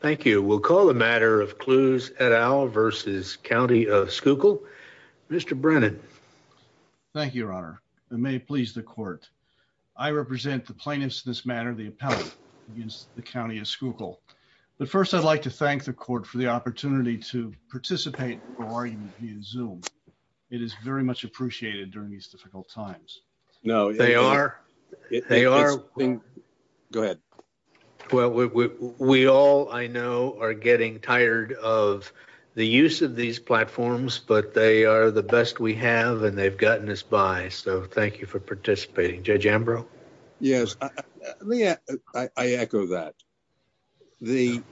Thank you. We'll call the matter of Clews et al versus County of Schuylkill. Mr. Brennan. Thank you, your honor. It may please the court. I represent the plaintiffs in this matter, the appellate against the County of Schuylkill. But first, I'd like to thank the court for the opportunity to participate for argument in Zoom. It is very much appreciated during these difficult times. No, they are. They are. Go ahead. Well, we all I know, are getting tired of the use of these platforms, but they are the best we have. And they've gotten us by. So thank you for participating. Judge Ambrose. Yes. Yeah, I echo that. The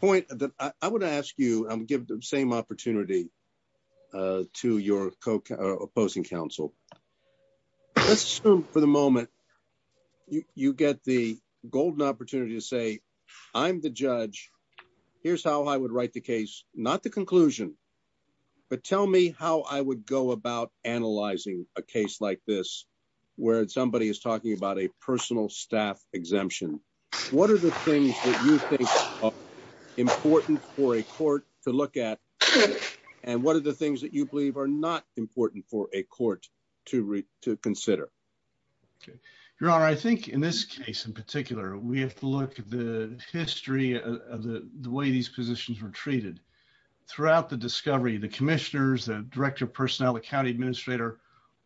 point that I would ask you give the same opportunity to your opposing counsel. Let's assume for the moment, you get the golden opportunity to say, I'm the judge. Here's how I would write the case, not the conclusion. But tell me how I would go about analyzing a case like this, where somebody is talking about a and what are the things that you believe are not important for a court to read to consider? Your honor, I think in this case, in particular, we have to look at the history of the way these positions were treated. Throughout the discovery, the commissioners, the director of personnel, the county administrator,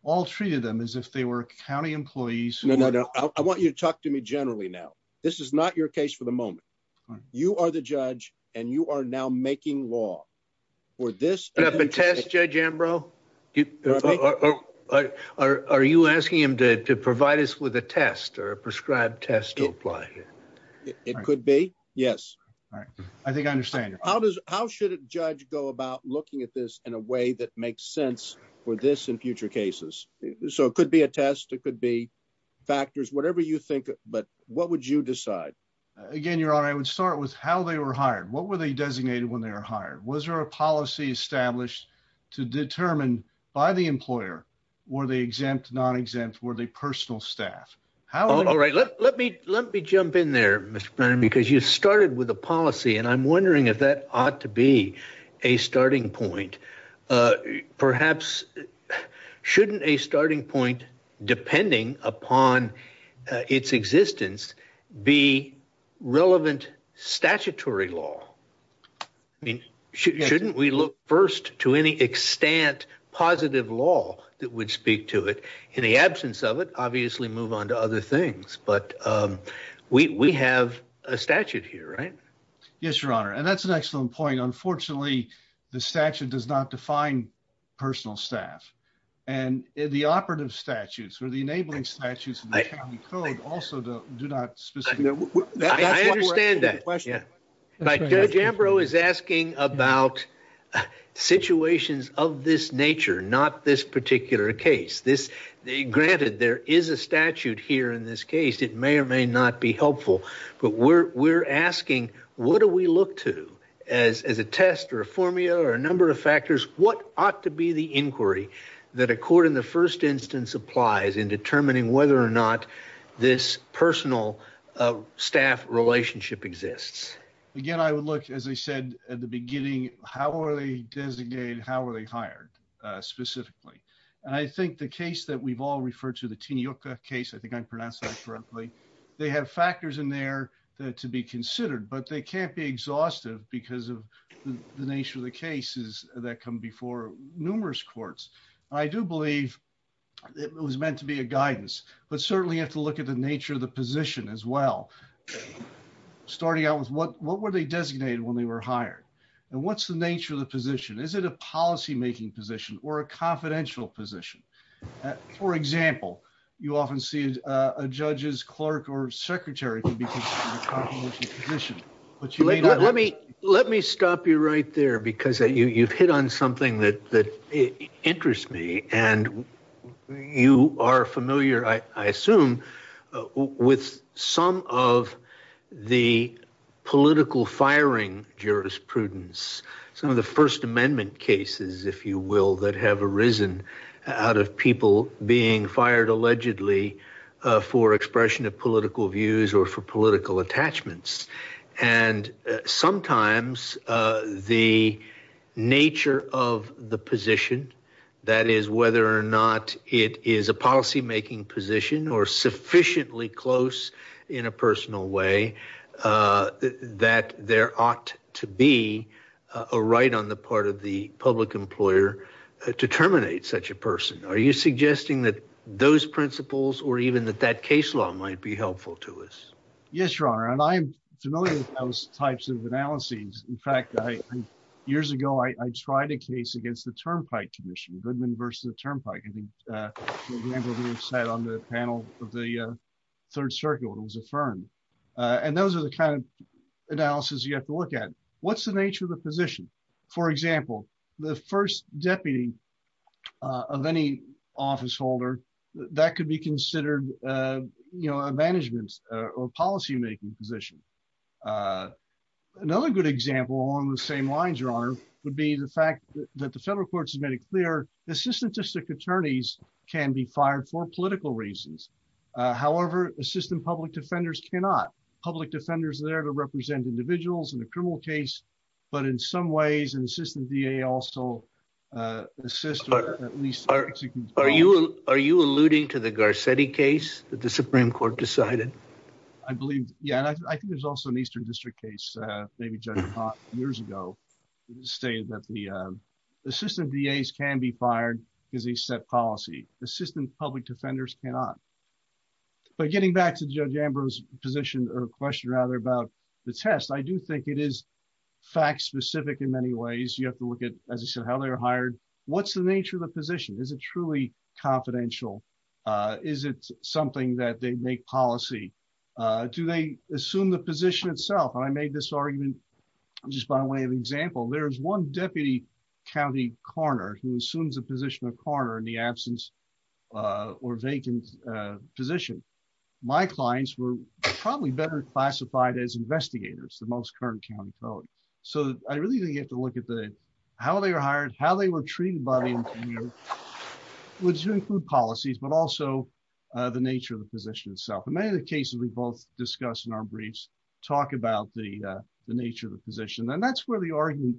all treated them as if they were county employees. No, no, no. I want you to talk to me generally. Now, this is not your case for the moment. You are the judge and you are now making law for this test. Judge Ambrose, are you asking him to provide us with a test or a prescribed test to apply? It could be. Yes. Right. I think I understand. How does how should a judge go about looking at this in a way that makes sense for this in future cases? So it could be a test. It could be whatever you think. But what would you decide? Again, your honor, I would start with how they were hired. What were they designated when they were hired? Was there a policy established to determine by the employer? Were they exempt, non-exempt? Were they personal staff? How all right. Let me let me jump in there, Mr. Brennan, because you started with a policy. And I'm wondering if that ought to be a starting point. Perhaps shouldn't a starting point, depending upon its existence, be relevant statutory law? I mean, shouldn't we look first to any extant positive law that would speak to it? In the absence of it, obviously move on to other things. But we have a statute here, right? Yes, your honor. And that's an excellent point. Unfortunately, the statute does not define personal staff. And the operative statutes or the enabling statutes of the county code also do not specifically. I understand that. Judge Ambrose is asking about situations of this nature, not this particular case. Granted, there is a statute here in this case. It may or may not be helpful. But we're asking, what do we look to as a test or a formula or a number of factors? What ought to be the inquiry that a court in the first instance applies in determining whether or not this personal staff relationship exists? Again, I would look, as I said at the beginning, how are they designated? How are they hired specifically? And I think the case that we've all referred to, the Tinioka case, I think I pronounced that correctly. They have factors in there that to be considered, but they can't be exhaustive because of the nature of the cases that come before numerous courts. I do believe it was meant to be a guidance, but certainly have to look at the nature of the position as well. Starting out with what were they designated when they were hired? And what's the nature of the position? Is it a policymaking position or confidential position? For example, you often see a judge's clerk or secretary can be considered a confidential position. Let me stop you right there because you've hit on something that interests me. And you are familiar, I assume, with some of the political firing jurisprudence, some of the First Amendment cases, if you will, that have arisen out of people being fired allegedly for expression of political views or for political attachments. And sometimes the nature of the position, that is whether or not it is a policymaking position or sufficiently close in a personal way, that there ought to be a right on the part of the public employer to terminate such a person. Are you suggesting that those principles or even that that case law might be helpful to us? Yes, Your Honor. And I am familiar with those types of analyses. In fact, years ago, I tried a case against the Turnpike Commission, Goodman versus Turnpike. I think, on the panel of the Third Circuit, it was affirmed. And those are the kind of analyses you have to look at. What's the nature of the position? For example, the first deputy of any officeholder, that could be considered a management or policymaking position. Another good example along the same lines, Your Honor, would be the fact that the federal court made it clear that assistant district attorneys can be fired for political reasons. However, assistant public defenders cannot. Public defenders are there to represent individuals in a criminal case. But in some ways, an assistant DA also assists or at least... Are you alluding to the Garcetti case that the Supreme Court decided? I believe, yeah. And I think there's also an Eastern District case, maybe Judge Pott years ago, stated that the assistant DAs can be fired because they set policy. Assistant public defenders cannot. But getting back to Judge Ambrose's position or question, rather, about the test, I do think it is fact-specific in many ways. You have to look at, as I said, how they were hired. What's the nature of the position? Is it truly confidential? Is it something that they make policy? Do they assume the position itself? And I made this argument just by way of example. There's one deputy county coroner who assumes the position of coroner in the absence or vacant position. My clients were probably better classified as investigators, the most current county code. So I really think you have to look at how they were hired, how they were hired. Many of the cases we both discussed in our briefs talk about the nature of the position. And that's where the argument,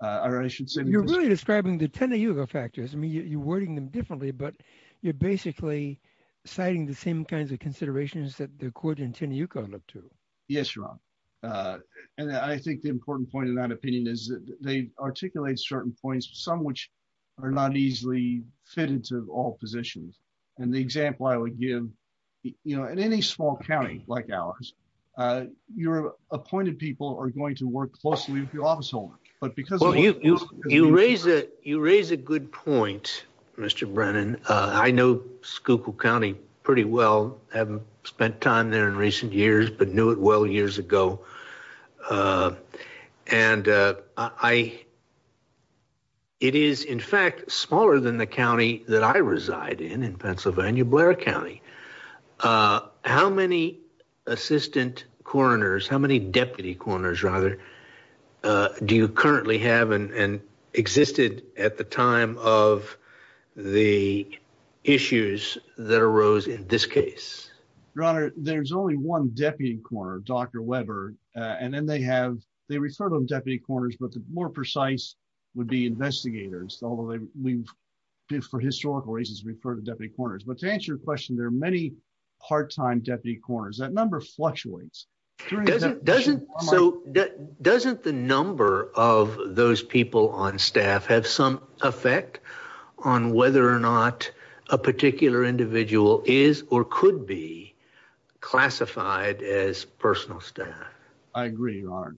or I should say... You're really describing the Tenayuga factors. I mean, you're wording them differently, but you're basically citing the same kinds of considerations that the court in Tenayuga looked to. Yes, Ron. And I think the important point in that opinion is that they articulate certain points, some of which are not easily fitted to all positions. And the example I would give, in any small county like ours, your appointed people are going to work closely with the office holder, but because... Well, you raise a good point, Mr. Brennan. I know Schuylkill County pretty well, haven't spent time there in recent years, but knew it well years ago. And it is, in fact, smaller than the county that I reside in, in Pennsylvania, Blair County. How many assistant coroners, how many deputy coroners, rather, do you currently have and existed at the time of the issues that arose in this case? Your Honor, there's only one deputy coroner, Dr. Weber, and then they have... They refer to them deputy coroners, but the more precise would be investigators, although we've, for historical reasons, referred to deputy coroners. But to answer your question, there are many part-time deputy coroners. That number fluctuates. Doesn't the number of those people on staff have some a particular individual is or could be classified as personal staff? I agree, Your Honor.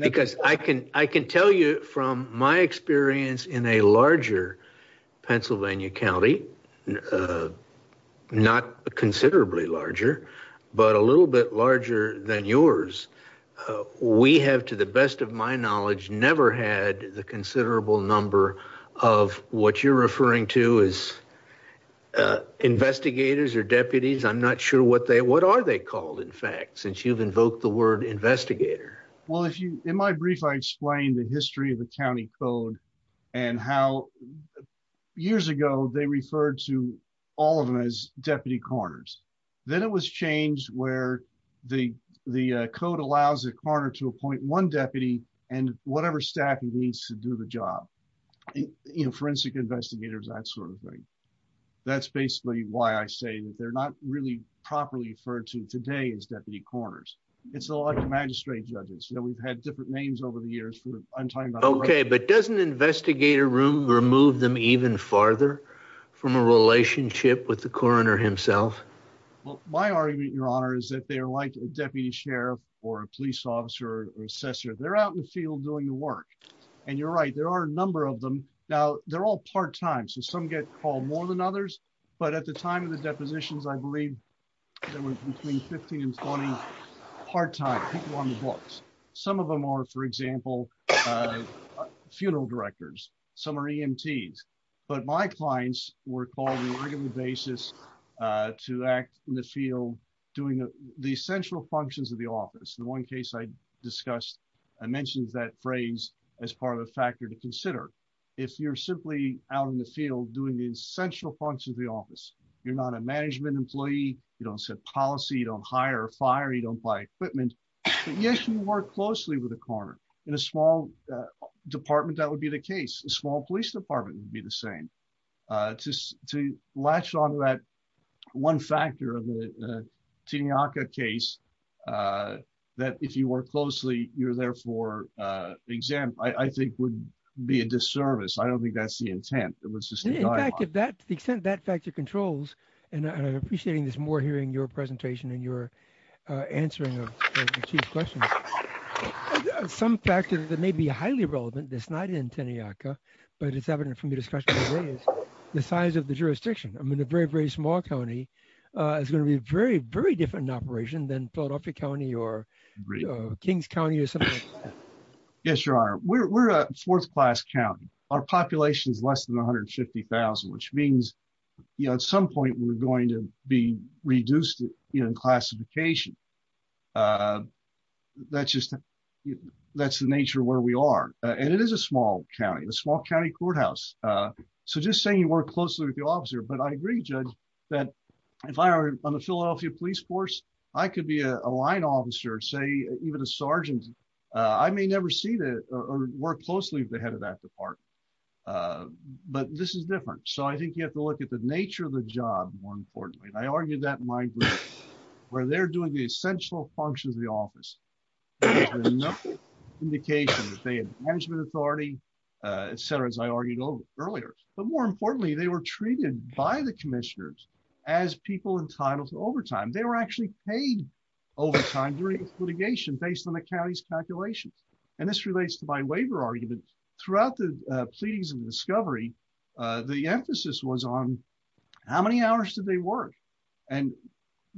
Because I can tell you from my experience in a larger Pennsylvania county, not considerably larger, but a little bit larger than yours, we have, to the best of my knowledge, never had the as investigators or deputies. I'm not sure what are they called, in fact, since you've invoked the word investigator. Well, in my brief, I explained the history of the county code and how years ago they referred to all of them as deputy coroners. Then it was changed where the code allows a coroner to appoint one deputy and whatever staff he needs to do the job. Forensic investigators, that sort of thing. That's basically why I say that they're not really properly referred to today as deputy coroners. It's a lot of magistrate judges. We've had different names over the years. Okay, but doesn't investigator room remove them even farther from a relationship with the coroner himself? Well, my argument, Your Honor, is that they are like a deputy sheriff or a police officer or assessor. They're out in the field doing the work. And you're right, there are a number of them. Now, they're all part-time, so some get called more than others. But at the time of the depositions, I believe there were between 15 and 20 part-time people on the books. Some of them are, for example, funeral directors. Some are EMTs. But my clients were called on a regular basis to act in the field doing the essential functions of the office. The one case I discussed, I mentioned that phrase as part of a factor to consider. If you're simply out in the field doing the essential functions of the office, you're not a management employee, you don't set policy, you don't hire or fire, you don't buy equipment. But yes, you work closely with a coroner. In a small department, that would be the case. A small police department would be the same. Just to latch on to that one factor of the Teneyaka case, that if you work closely, you're therefore exempt, I think would be a disservice. I don't think that's the intent, it was just the dialogue. In fact, to the extent that factor controls, and I'm appreciating this more hearing your presentation and your answering of Chief's questions, some factors that may be highly relevant that's not in Teneyaka, but it's from your discussion today is the size of the jurisdiction. I mean, a very, very small county is going to be very, very different operation than Philadelphia County or Kings County or something like that. Yes, your honor. We're a fourth-class county. Our population is less than 150,000, which means at some point we're going to be reduced in classification. That's the nature of where we are. And it is a small county, a small county courthouse. So just saying you work closely with the officer, but I agree, Judge, that if I were on the Philadelphia police force, I could be a line officer, say even a sergeant. I may never see that or work closely with the head of that department, but this is different. So I think you have to look at the nature of the job, more importantly. And I argued that in my group, where they're doing the essential functions of the office, there was enough indication that they had management authority, et cetera, as I argued earlier. But more importantly, they were treated by the commissioners as people entitled to overtime. They were actually paid overtime during litigation based on the county's calculations. And this relates to my waiver argument. Throughout the pleadings of the discovery, the emphasis was on how many hours did they work? And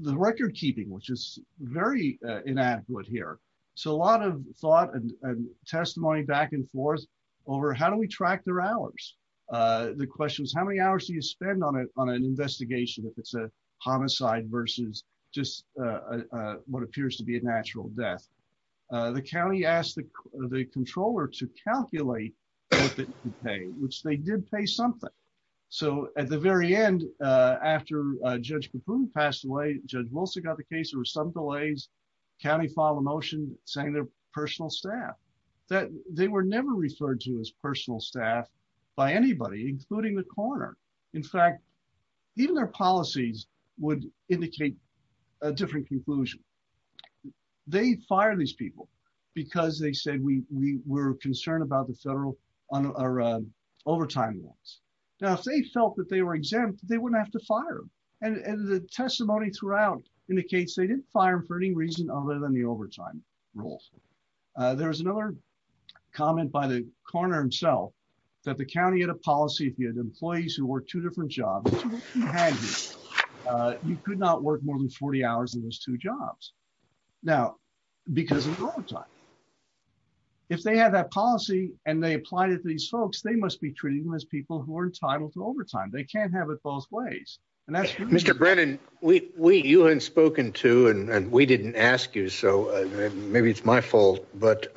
the record keeping, which is very inadequate here. So a lot of thought and testimony back and forth over how do we track their hours? The question is, how many hours do you spend on an investigation if it's a homicide versus just what appears to be a natural death? The county asked the controller to calculate what they could pay, which they did pay something. So at the very end, after Judge Caput passed away, Judge Wilson got the case, there were some delays. The county filed a motion saying they're personal staff. They were never referred to as personal staff by anybody, including the coroner. In fact, even their policies would indicate a different conclusion. They fired these people because they said we were concerned about the federal overtime rules. Now, if they felt that they wouldn't have to fire them and the testimony throughout indicates they didn't fire for any reason other than the overtime rules. There was another comment by the coroner himself that the county had a policy if you had employees who worked two different jobs, you could not work more than 40 hours in those two jobs. Now, because of overtime, if they had that policy and they applied it to these folks, they must be treating them as people who are entitled to overtime. They can't have it both ways. Mr. Brennan, you hadn't spoken to and we didn't ask you, so maybe it's my fault, but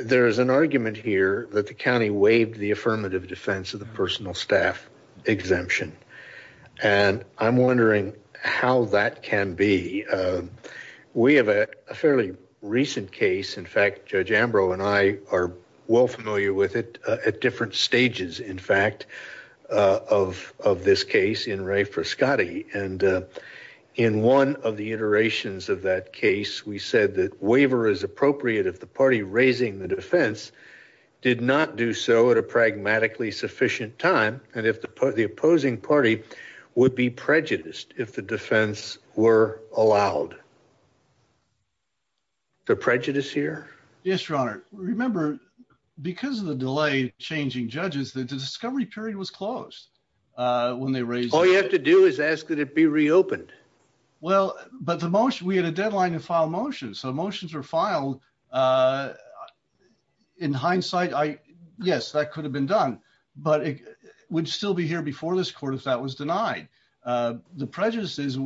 there's an argument here that the county waived the affirmative defense of the personal staff exemption, and I'm wondering how that can be. We have a fairly recent case. In fact, Judge Ambrose and I are well familiar with it at different stages, in fact, of this case in Ray Frascati, and in one of the iterations of that case, we said that waiver is appropriate if the party raising the defense did not do so at a pragmatically sufficient time and if the opposing party would be prejudiced if the defense were that the discovery period was closed when they raised it. All you have to do is ask that it be reopened. Well, but the motion, we had a deadline to file a motion, so motions were filed. In hindsight, yes, that could have been done, but it would still be here before this court if that was denied. The prejudice is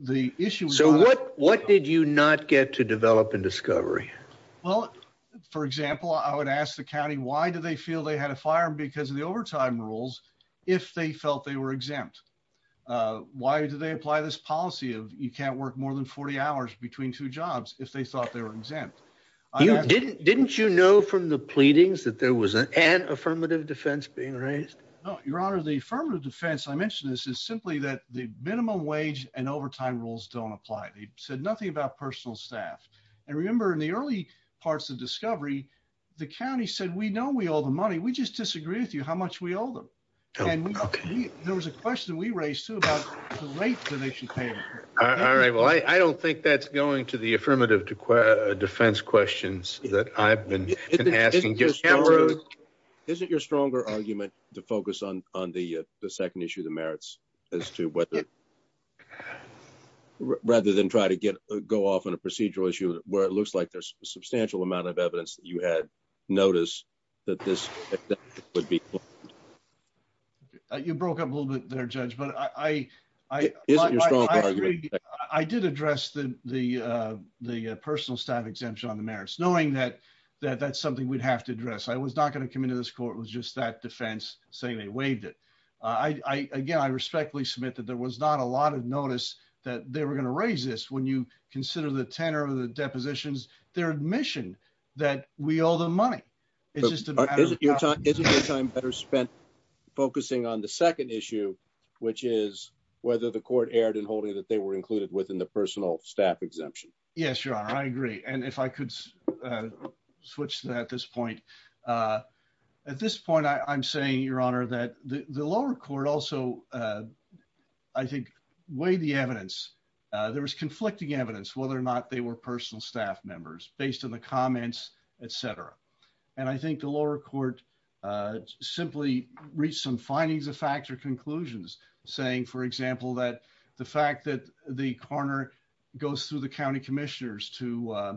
the issue. So what did you not get to develop in discovery? Well, for example, I would ask the county why do they feel they had a firearm because of the overtime rules if they felt they were exempt? Why did they apply this policy of you can't work more than 40 hours between two jobs if they thought they were exempt? Didn't you know from the pleadings that there was an affirmative defense being raised? No, your honor, the affirmative defense, I mentioned this, is simply that the minimum wage and overtime rules don't apply. They don't apply. The county said we know we owe the money. We just disagree with you how much we owe them. There was a question we raised too about the rate donation payment. All right, well, I don't think that's going to the affirmative defense questions that I've been asking. Isn't your stronger argument to focus on the second issue of the merits as to whether rather than try to evidence that you had notice that this would be. You broke up a little bit there, Judge, but I did address the personal staff exemption on the merits knowing that that's something we'd have to address. I was not going to come into this court with just that defense saying they waived it. Again, I respectfully submit that there was not a lot of notice that they were going to raise when you consider the tenor of the depositions, their admission that we owe them money. Isn't your time better spent focusing on the second issue, which is whether the court erred in holding that they were included within the personal staff exemption? Yes, your honor, I agree. And if I could switch to that at this point. At this point, I'm saying, your honor, that the evidence whether or not they were personal staff members based on the comments, etc. And I think the lower court simply reached some findings of fact or conclusions saying, for example, that the fact that the corner goes through the county commissioners to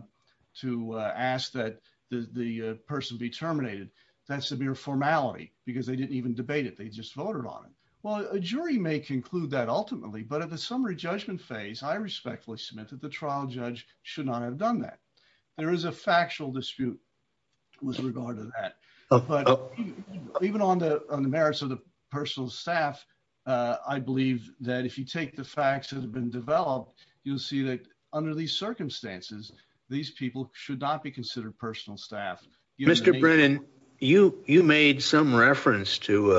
ask that the person be terminated. That's a mere formality because they didn't even debate it. They just voted on it. Well, a jury may conclude that ultimately. But at the summary judgment phase, I respectfully submit that the trial judge should not have done that. There is a factual dispute with regard to that. But even on the merits of the personal staff, I believe that if you take the facts that have been developed, you'll see that under these circumstances, these people should not be considered personal staff. Mr. Brennan, you made some reference to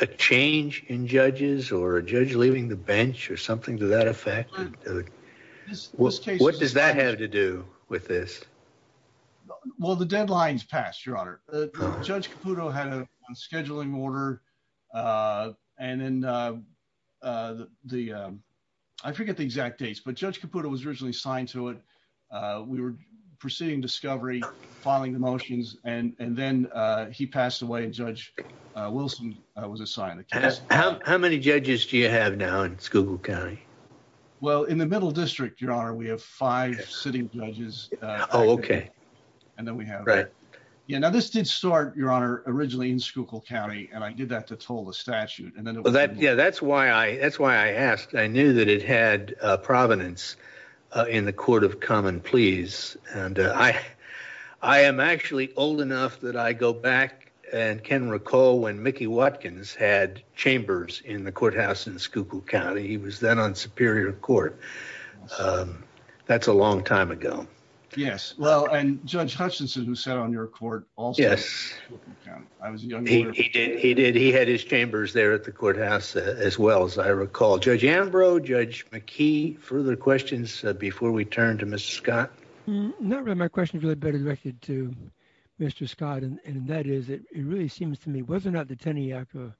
a change in judges or a judge leaving the bench or something to that effect. What does that have to do with this? Well, the deadline's passed, your honor. Judge Caputo had a scheduling order and then the I forget the exact dates, but Judge Caputo was originally signed to it. We were proceeding discovery, filing the motions, and then he passed away. Judge Wilson was assigned. How many judges do you have now in Schuylkill County? Well, in the middle district, your honor, we have five sitting judges. Oh, OK. And then we have that. Yeah. Now, this did start, your honor, originally in Schuylkill County, and I did that to toll the statute. And then that's why I asked. I knew that it had provenance in the court of common pleas. And I am actually old enough that I go back and can recall when Mickey Watkins had chambers in the courthouse in Schuylkill County. He was then on Superior Court. That's a long time ago. Yes. Well, and Judge Hutchinson, who sat on your court also. Yes. He did. He did. He had his chambers there at the courthouse as well, as I recall. Judge Ambrose, Judge McKee, further questions before we turn to Mr. Scott? Not really. My question is really better directed to Mr. Scott. And that is, it really seems to me, whether or not the Tenayaku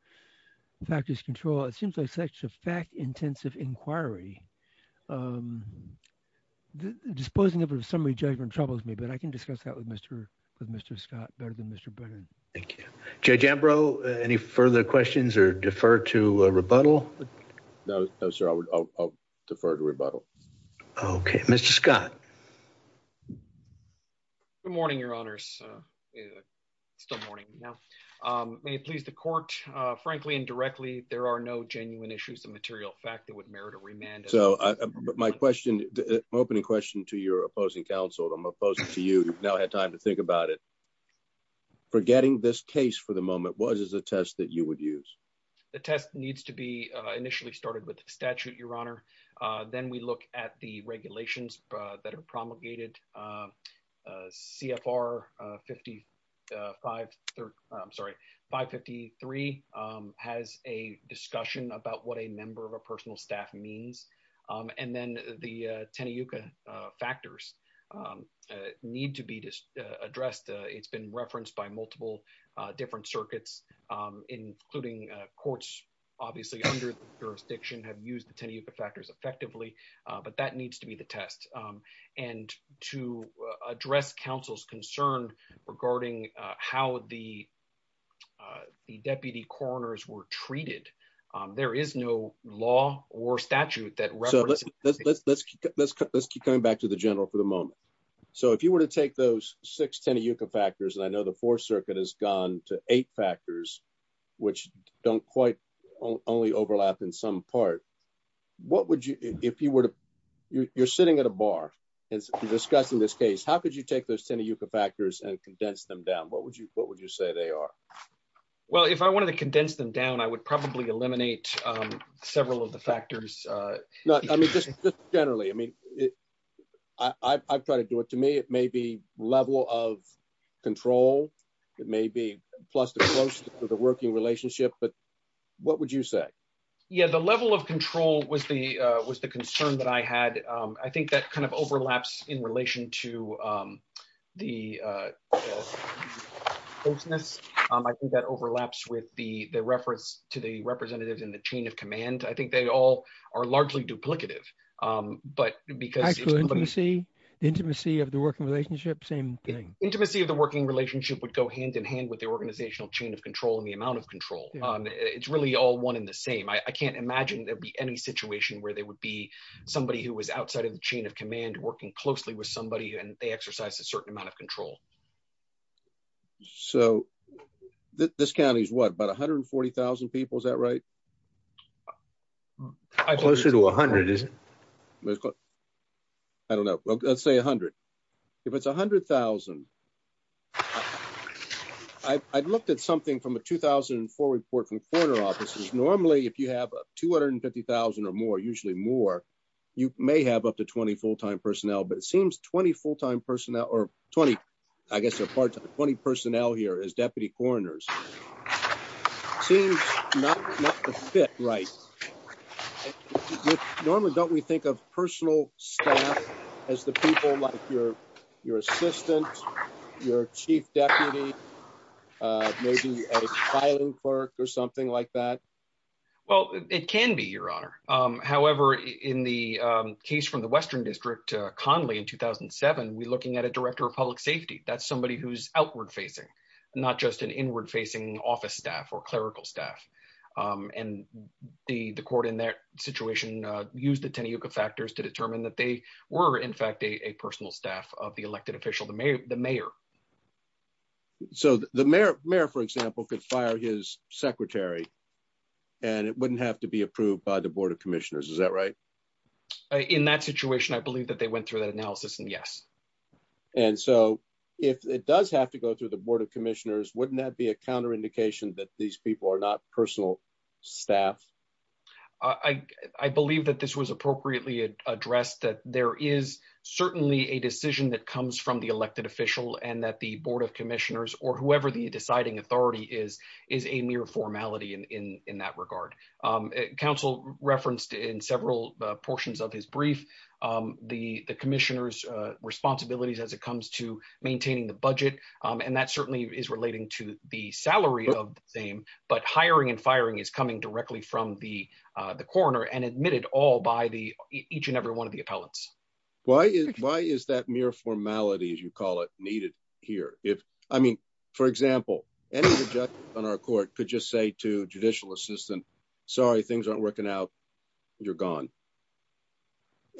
factors control, it seems like such a fact intensive inquiry. Disposing of a summary judgment troubles me, but I can discuss that with Mr. with Mr. Scott better than Mr. Brennan. Thank you. Judge Ambrose, any further questions or defer to rebuttal? No, no, sir. I would defer to rebuttal. Okay, Mr. Scott. Good morning, your honors. Still morning now. May it please the court, frankly and directly, there are no genuine issues of material fact that would merit a remand. So my question, opening question to your opposing counsel, I'm opposing to you now had time to think about it. Forgetting this case for the moment was a test that you would use. The test needs to be initially started with the statute, your honor. Then we look at the regulations that are promulgated. CFR 553 has a discussion about what a member of a personal staff means. And then the Tenayuka factors need to be addressed. It's been referenced by multiple different circuits, including courts, obviously under the jurisdiction have used the Tenayuka factors effectively. But that needs to be the test. And to address counsel's concern regarding how the the deputy coroners were treated. There is no law or statute that let's let's let's let's let's keep coming back to the general for the moment. So if you were to take those six Tenayuka factors and I know the fourth circuit has gone to eight factors, which don't quite only overlap in some part, what would you if you were to you're sitting at a bar and discussing this case, how could you take those Tenayuka factors and condense them down? What would you what would you say they are? Well, if I wanted to condense them down, I would probably eliminate several of the factors. I mean, just generally, I mean, I try to do it to me. It may be level of control. It may be plus the close to the working relationship. But what would you say? Yeah, the level of control was the was the concern that I had. I think that kind of overlaps in relation to the business that overlaps with the reference to the representatives in the chain of command. I think they all are largely duplicative. But because you see the intimacy of the working relationship, same thing, intimacy of the working relationship would go hand in hand with the organizational chain of control and the amount of control. It's really all one in the same. I can't imagine there'd be any situation where there would be somebody who was outside of the chain of command working closely with somebody and they exercise a certain amount of control. So this county is what, about 140,000 people, is that right? Closer to 100. I don't know. Let's say 100. If it's 100,000, I looked at something from a 2004 report from coroner offices. Normally, if you have 250,000 or more, usually more, you may have up to 20 full time personnel, but it seems 20 full time right. Normally, don't we think of personal staff as the people like your assistant, your chief deputy, maybe a filing clerk or something like that? Well, it can be, Your Honor. However, in the case from the Western District, Conley in 2007, we're looking at a director of public safety. That's somebody who's outward facing, not just an inward facing office staff clerical staff. And the court in that situation, used the Teneyooka factors to determine that they were in fact a personal staff of the elected official, the mayor. So the mayor, for example, could fire his secretary and it wouldn't have to be approved by the Board of Commissioners. Is that right? In that situation, I believe that they went through that analysis and yes. And so if it does have to go through the Board of Commissioners, wouldn't that be a counter indication that these people are not personal staff? I believe that this was appropriately addressed, that there is certainly a decision that comes from the elected official and that the Board of Commissioners or whoever the deciding authority is, is a mere formality in that regard. Council referenced in several portions of his brief, the Commissioner's responsibilities as it comes to maintaining the budget. And that certainly is relating to the salary of the same, but hiring and firing is coming directly from the coroner and admitted all by each and every one of the appellants. Why is that mere formality, as you call it, needed here? If, I mean, for example, any objection on our court could just say to judicial assistant, sorry, things aren't working out, you're gone.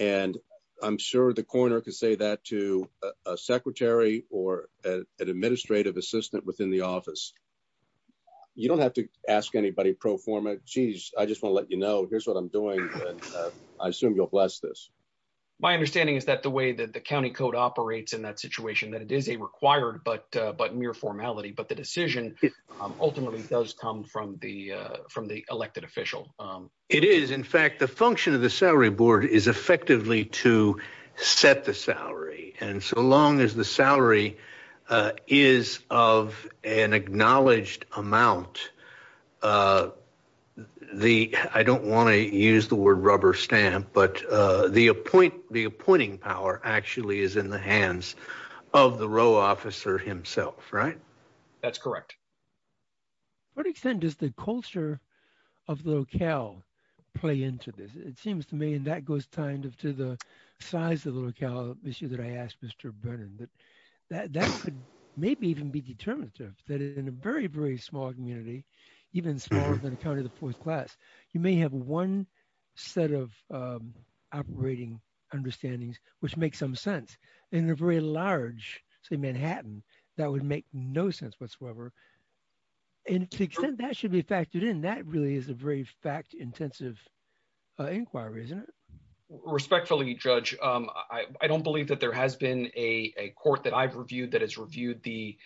And I'm sure the coroner could say that to a secretary or an administrative assistant within the office. You don't have to ask anybody pro forma, geez, I just want to let you know, here's what I'm doing. I assume you'll bless this. My understanding is that the way that the county code operates in that situation, that it is a required, but mere formality, but the decision ultimately does come from the elected official. It is in fact, the function of the salary board is effectively to set the salary. And so long as the salary is of an acknowledged amount, the, I don't want to use the word rubber stamp, but the appoint, the appointing power actually is in the hands of the row officer himself, right? That's correct. To what extent does the culture of the locale play into this? It seems to me, and that goes kind of to the size of the locale issue that I asked Mr. Brennan, that that could maybe even be determinative, that in a very, very small community, even smaller than a county of the fourth class, you may have one set of operating understandings, which makes some sense. In a very large, say Manhattan, that would make no sense whatsoever. And to the extent that should be factored in, that really is a very fact intensive inquiry, isn't it? Respectfully, Judge, I don't believe that there has been a court that I've reviewed that has reviewed the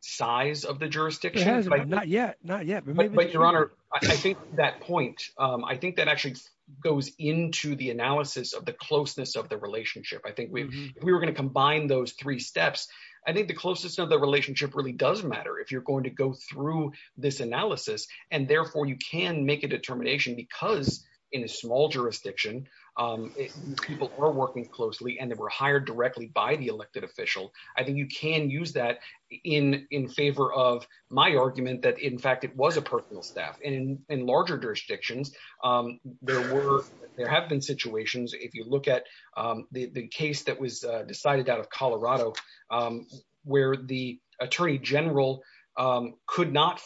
size of the jurisdiction. Not yet, not yet. But Your Honor, I think that point, I think that goes into the analysis of the closeness of the relationship. I think we were going to combine those three steps. I think the closest of the relationship really does matter if you're going to go through this analysis. And therefore, you can make a determination because in a small jurisdiction, people are working closely, and they were hired directly by the elected official. I think you can use that in in favor of my argument that in fact, it was a personal staff in larger jurisdictions. There were there have been situations, if you look at the case that was decided out of Colorado, where the Attorney General could not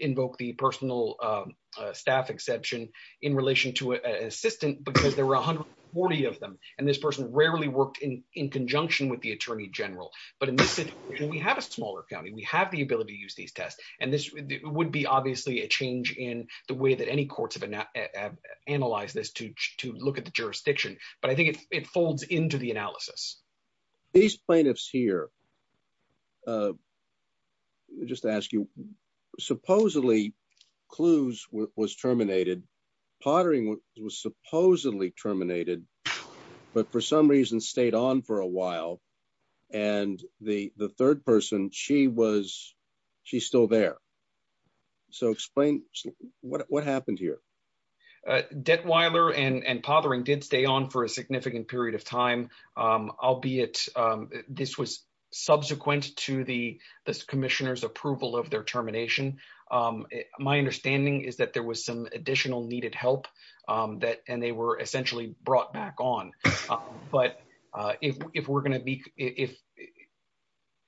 invoke the personal staff exception in relation to an assistant, because there were 140 of them. And this person rarely worked in in conjunction with the Attorney General. But in this situation, we have a smaller use these tests. And this would be obviously a change in the way that any courts have analyzed this to to look at the jurisdiction. But I think it folds into the analysis. These plaintiffs here just ask you, supposedly, clues was terminated, pottering was supposedly terminated, but for some reason stayed on for a while. And the the third person, she was, she's still there. So explain what happened here. Debt Weiler and pottering did stay on for a significant period of time. Albeit, this was subsequent to the commissioners approval of their termination. My understanding is that there was some additional needed help that and they were essentially brought back on. But if we're going to be if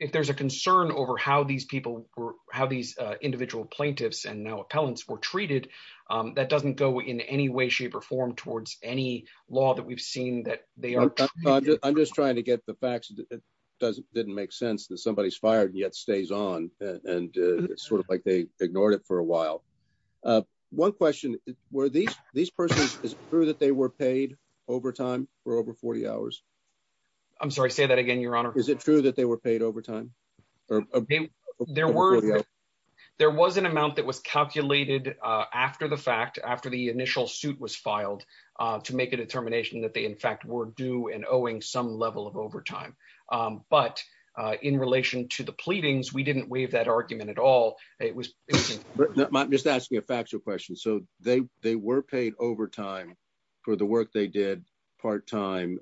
if there's a concern over how these people were, how these individual plaintiffs and now appellants were treated, that doesn't go in any way, shape or form towards any law that we've seen that they are. I'm just trying to get the facts. It doesn't didn't make sense that somebody's fired yet stays on and sort of like they ignored it for a while. One question where these persons is true that they were paid overtime for over 40 hours. I'm sorry, say that again, Your Honor. Is it true that they were paid overtime? There were there was an amount that was calculated after the fact after the initial suit was filed to make a determination that they in fact were due and owing some level of overtime. But in relation to the pleadings, we didn't waive that argument at all. It was just asking a factual question. So they they were paid overtime for the work they did part time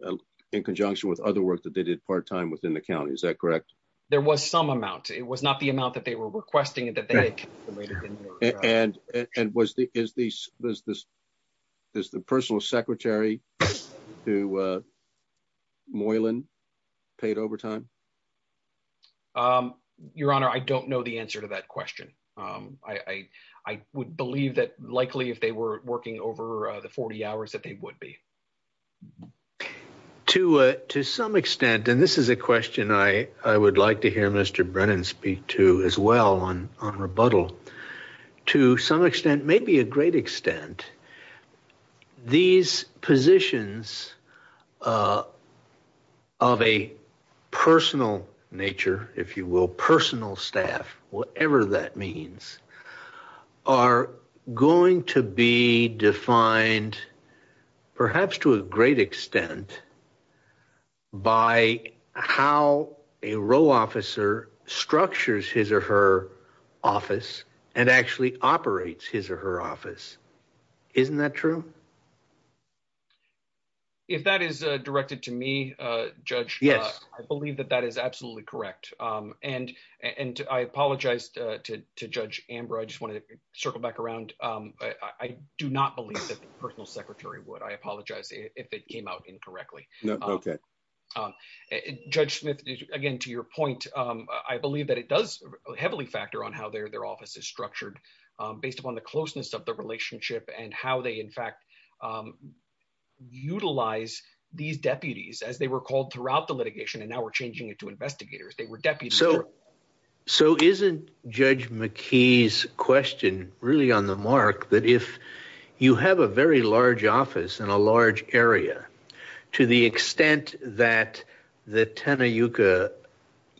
in conjunction with other work that they did part time within the county. Is that correct? There was some amount. It was not the amount that they were requesting it. And and was the is this was this is the personal secretary to Moylan paid overtime? Your Honor, I don't know the answer to that question. I I would believe that likely if they were working over the 40 hours that they would be. To to some extent, and this is a question I I would like to hear Mr. Brennan speak to as well on on rebuttal to some extent, maybe a great extent. These positions of a personal nature, if you will, personal staff, whatever that means, are going to be defined perhaps to a great extent. By how a row officer structures his or her office and actually operates his or her office. Isn't that true? If that is directed to me, Judge, yes, I believe that that is absolutely correct. And, and I apologize to Judge Amber, I just wanted to circle back around. I do not believe that the personal secretary would I apologize if it came out incorrectly. Okay. Judge Smith, again, to your point, I believe that it does heavily factor on how their their office is structured, based upon closeness of the relationship and how they in fact, utilize these deputies as they were called throughout the litigation, and now we're changing it to investigators, they were deputies. So, so isn't Judge McKee's question really on the mark that if you have a very large office in a large area, to the extent that the Tena Yucca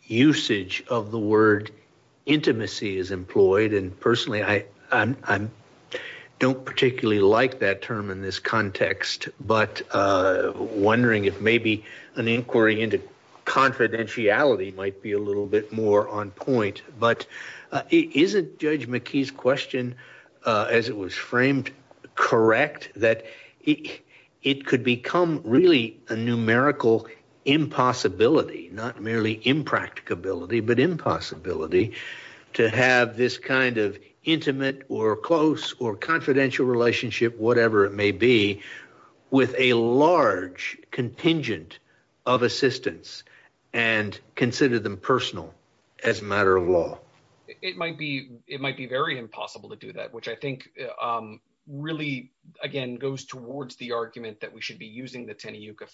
usage of the word intimacy is employed, and personally, I I'm don't particularly like that term in this context, but wondering if maybe an inquiry into confidentiality might be a little bit more on point, but isn't Judge McKee's question, as it was framed, correct, that it could become really a numerical impossibility, not merely impracticability, but impossibility to have this kind of intimate or close or confidential relationship, whatever it may be, with a large contingent of assistance, and consider them personal, as a matter of law, it might be, it might be very impossible to do that, which I think really, again, goes towards the argument that we should be using the Tena Yucca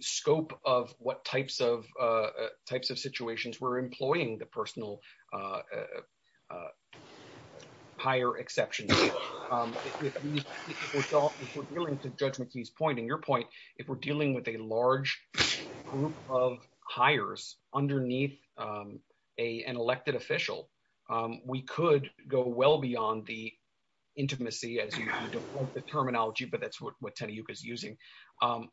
scope of what types of types of situations we're employing the personal higher exceptions. If we're dealing with a large group of hires underneath an elected official, we could go well beyond the intimacy as you want the terminology, but that's what Tena Yucca is about.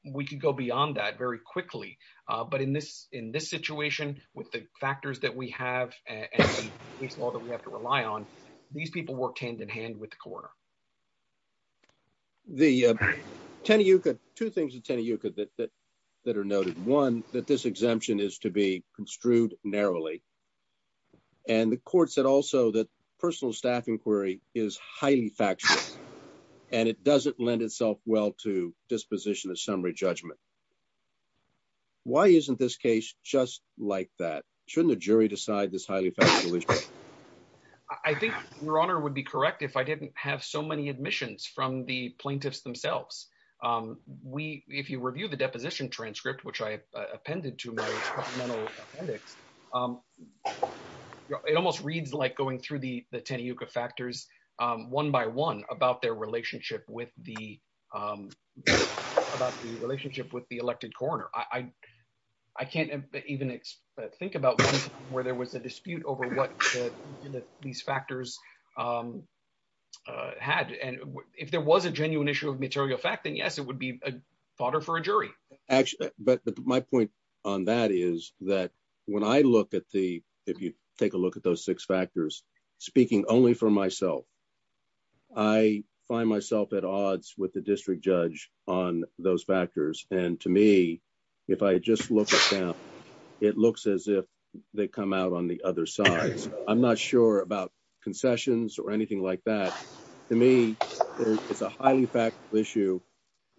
But in this, in this situation, with the factors that we have, and the case law that we have to rely on, these people work hand in hand with the coroner. The Tena Yucca, two things in Tena Yucca that are noted, one, that this exemption is to be construed narrowly. And the court said also that personal staff inquiry is highly factual, and it doesn't lend itself well to disposition of summary judgment. Why isn't this case just like that? Shouldn't the jury decide this highly factually? I think your honor would be correct if I didn't have so many admissions from the plaintiffs themselves. We, if you review the deposition transcript, which I appended to my supplemental appendix, it almost reads like going through the Tena Yucca factors, one by one about their relationship with the, about the relationship with the elected coroner. I can't even think about where there was a dispute over what these factors had. And if there was a genuine issue of material fact, then yes, it would be a fodder for a jury. Actually, but my point on that is that when I look at the, if you take a look at those six factors, speaking only for myself, I find myself at odds with the district judge on those factors. And to me, if I just look at them, it looks as if they come out on the other side. I'm not sure about concessions or anything like that. To me, it's a highly factual issue.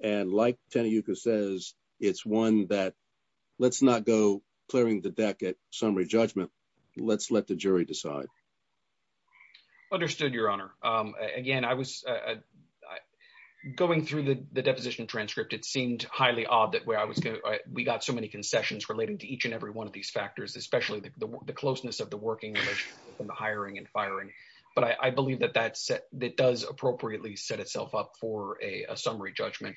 And like Tena Yucca says, it's one that let's not go clearing the deck at summary judgment. Let's let the jury decide. Understood, Your Honor. Again, I was, going through the deposition transcript, it seemed highly odd that where I was going, we got so many concessions relating to each and every one of these factors, especially the closeness of the working relationship between the hiring and firing. But I believe that that's, that does appropriately set itself up for a summary judgment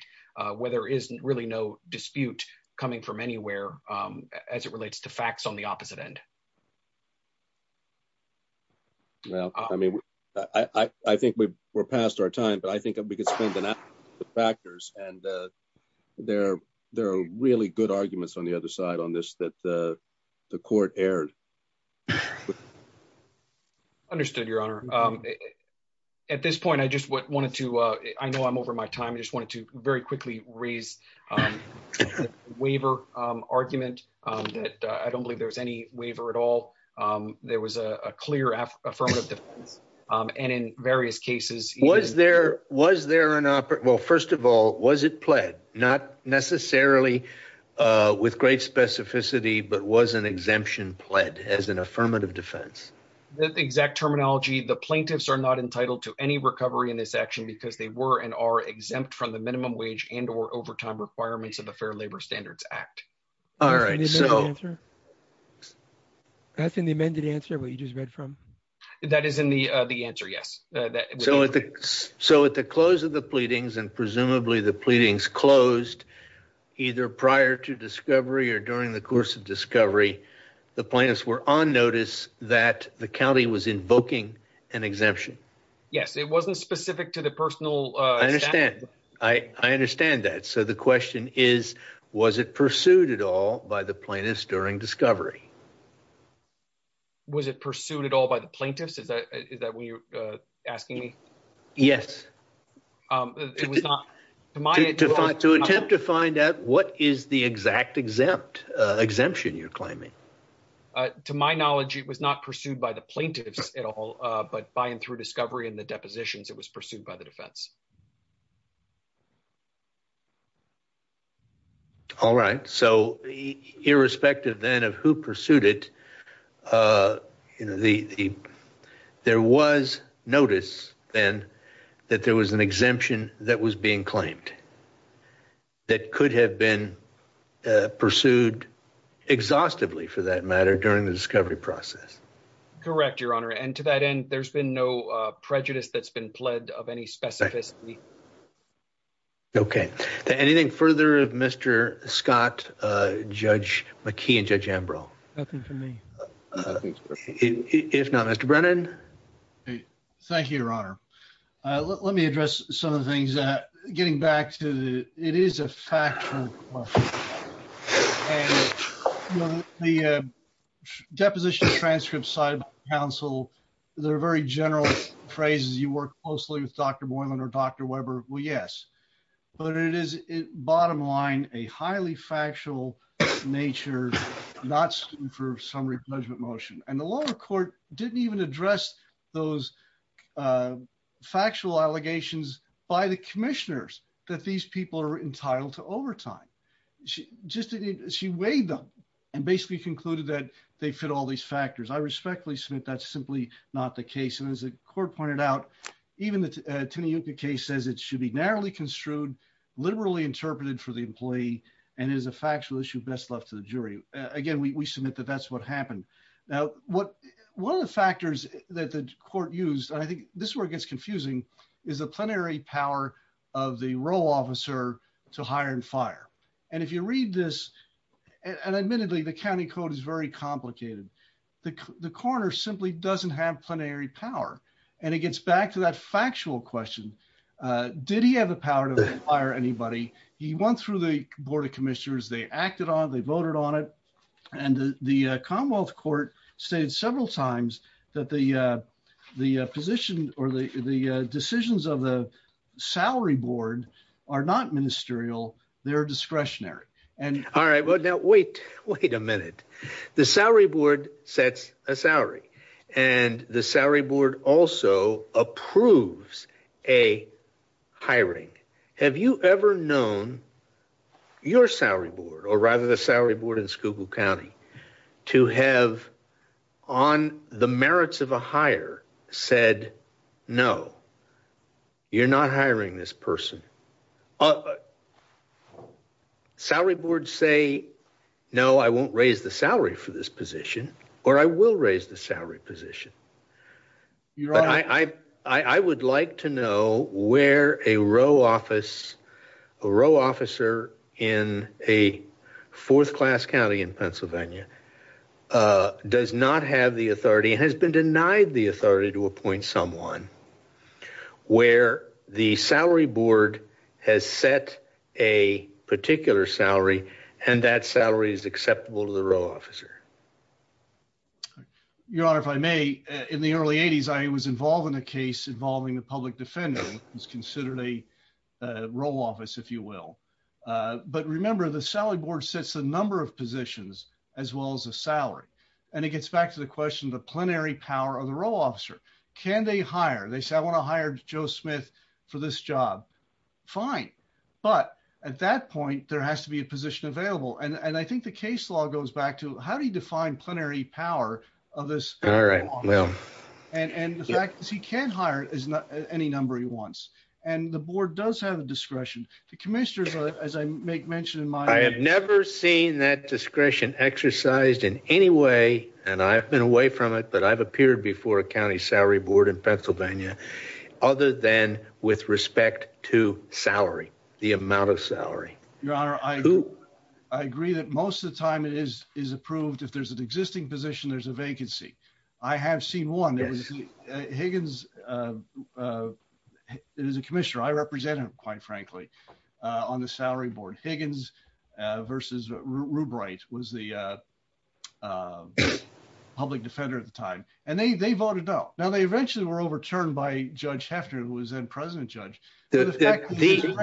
where there isn't really no dispute coming from anywhere as it relates to facts on the opposite end. Well, I mean, I think we're past our time, but I think we could spend the factors and there are really good arguments on the other side on this that the court erred. Understood, Your Honor. At this point, I just wanted to, I know I'm over my time, I just wanted to very quickly raise a waiver argument that I don't believe there was any defense. And in various cases, was there, was there an, well, first of all, was it pled, not necessarily with great specificity, but was an exemption pled as an affirmative defense? Exact terminology, the plaintiffs are not entitled to any recovery in this action because they were and are exempt from the minimum wage and or overtime requirements of the Fair Labor Standards All right. So that's in the amended answer, what you just read from that is in the, the answer. Yes. So at the, so at the close of the pleadings and presumably the pleadings closed either prior to discovery or during the course of discovery, the plaintiffs were on notice that the county was invoking an exemption. Yes. It wasn't specific to the personal. I understand. I, I understand that. So the question is, was it pursued at all by the plaintiffs during discovery? Was it pursued at all by the plaintiffs? Is that, is that what you're asking me? Yes. It was not, to my, to attempt to find out what is the exact exempt, exemption you're claiming? To my knowledge, it was not pursued by the plaintiffs at all, but by and through discovery and the depositions, it was pursued by the defense. All right. So irrespective then of who pursued it, you know, the, the, there was notice then that there was an exemption that was being claimed that could have been pursued exhaustively for that matter during the discovery process. Correct, Your Honor. And to that end, there's been no Okay. Anything further of Mr. Scott, Judge McKee and Judge Ambrose? Nothing for me. If not, Mr. Brennan. Thank you, Your Honor. Let me address some of the things that, getting back to the, it is a factual question. And the deposition transcripts cited by counsel, they're very general phrases. You work closely with Dr. Boylan or Dr. Weber. Well, yes, but it is bottom line, a highly factual nature, not for some replacement motion. And the lower court didn't even address those factual allegations by the commissioners that these people are entitled to overtime. She just, she weighed them and basically concluded that they I respectfully submit that's simply not the case. And as the court pointed out, even the case says it should be narrowly construed, liberally interpreted for the employee and is a factual issue best left to the jury. Again, we submit that that's what happened. Now, what, one of the factors that the court used, and I think this word gets confusing is a plenary power of the role officer to hire and fire. And if you read this, and admittedly, the county code is very complicated. The corner simply doesn't have plenary power. And it gets back to that factual question. Did he have the power to hire anybody? He went through the board of commissioners, they acted on it, they voted on it. And the Commonwealth court stated several times that the position or the decisions of the salary board are not ministerial, they're discretionary. And all right, well, now wait, wait a minute. The salary board sets a salary. And the salary board also approves a hiring. Have you ever known your salary board or rather the salary board in said, no, you're not hiring this person. Salary board say, no, I won't raise the salary for this position, or I will raise the salary position. I would like to know where a row office, a row officer in a fourth class county in the authority to appoint someone where the salary board has set a particular salary, and that salary is acceptable to the row officer. Your Honor, if I may, in the early 80s, I was involved in a case involving the public defender is considered a role office, if you will. But remember, the salary board sets a number of can they hire? They say, I want to hire Joe Smith for this job. Fine. But at that point, there has to be a position available. And I think the case law goes back to how do you define plenary power of this? And the fact is he can't hire any number he wants. And the board does have a discretion to commissioners, as I make mention in my I have never seen that discretion exercised in any way. And I've been away from it. But I've appeared before a county salary board in Pennsylvania, other than with respect to salary, the amount of salary, Your Honor, I do. I agree that most of the time it is is approved. If there's an existing position, there's a vacancy. I have seen one that was Higgins. It is a commissioner I represented, quite frankly, on the salary board. Higgins versus Rubrite was the public defender at the time. And they voted no. Now, they eventually were overturned by Judge Heffner, who was then president judge. Excuse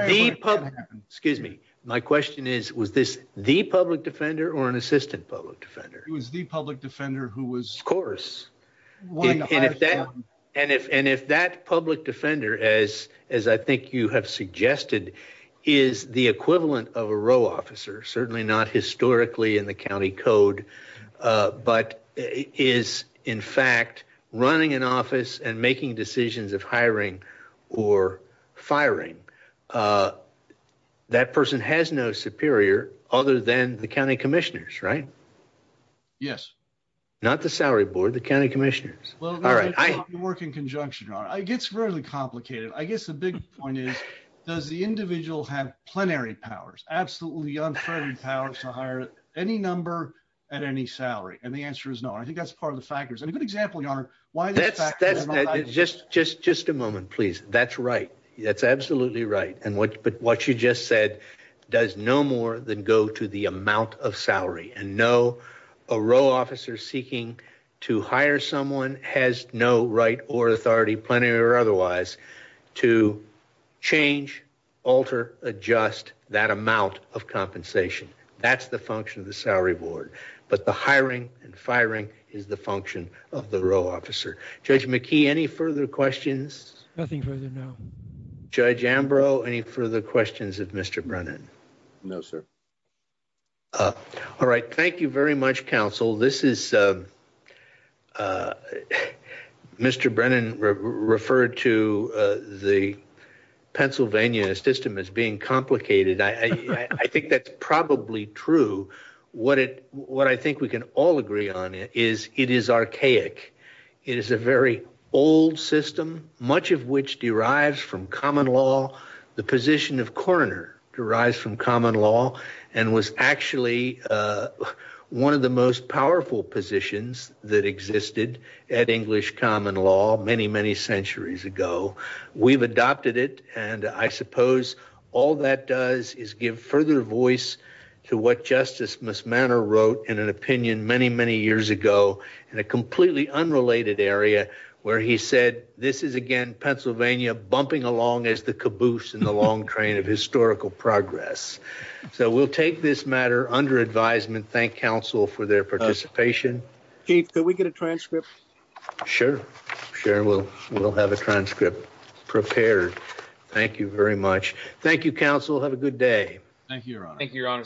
me. My question is, was this the public defender or an assistant public defender? It was the public defender who was. Of course. And if that public defender, as I think you have suggested, is the equivalent of a row officer, certainly not historically in the county code, but is, in fact, running an office and making decisions of hiring or firing, that person has no superior other than the county commissioners, right? Yes. Not the salary board, the county commissioners. Well, all right. I work in conjunction. It gets really complicated. I guess the big point is, does the individual have plenary powers, absolutely unfettered powers to hire any number at any salary? And the answer is no. I think that's part of the factors. And a good example, your honor, why that's. Just a moment, please. That's right. That's absolutely right. But what you just said does no more than go to the amount of salary. And no, a row officer seeking to hire someone has no right or authority, plenary or otherwise, to change, alter, adjust that amount of compensation. That's the function of the salary board. But the hiring and firing is the function of the row officer. Judge McKee, any further questions? Nothing further now. Judge Ambrose, any further questions of Mr. Brennan? No, sir. All right. Thank you very much, counsel. This is, Mr. Brennan referred to the Pennsylvania system as being complicated. I think that's probably true. What I think we can all agree on is it is archaic. It is a very old system, much of which derives from common law. The position of coroner derives from common law and was actually one of the most powerful positions that existed at English common law many, many centuries ago. We've adopted it. And I suppose all that does is give further voice to what Justice Mismanner wrote in an opinion many, many years ago in a completely unrelated area where he said, this is again Pennsylvania bumping along as the caboose in the long train of historical progress. So we'll take this matter under advisement. Thank counsel for their participation. Chief, can we get a transcript? Sure. Sure. We'll have a transcript prepared. Thank you very much. Thank you, counsel. Have a good day. Thank you, Your Honor.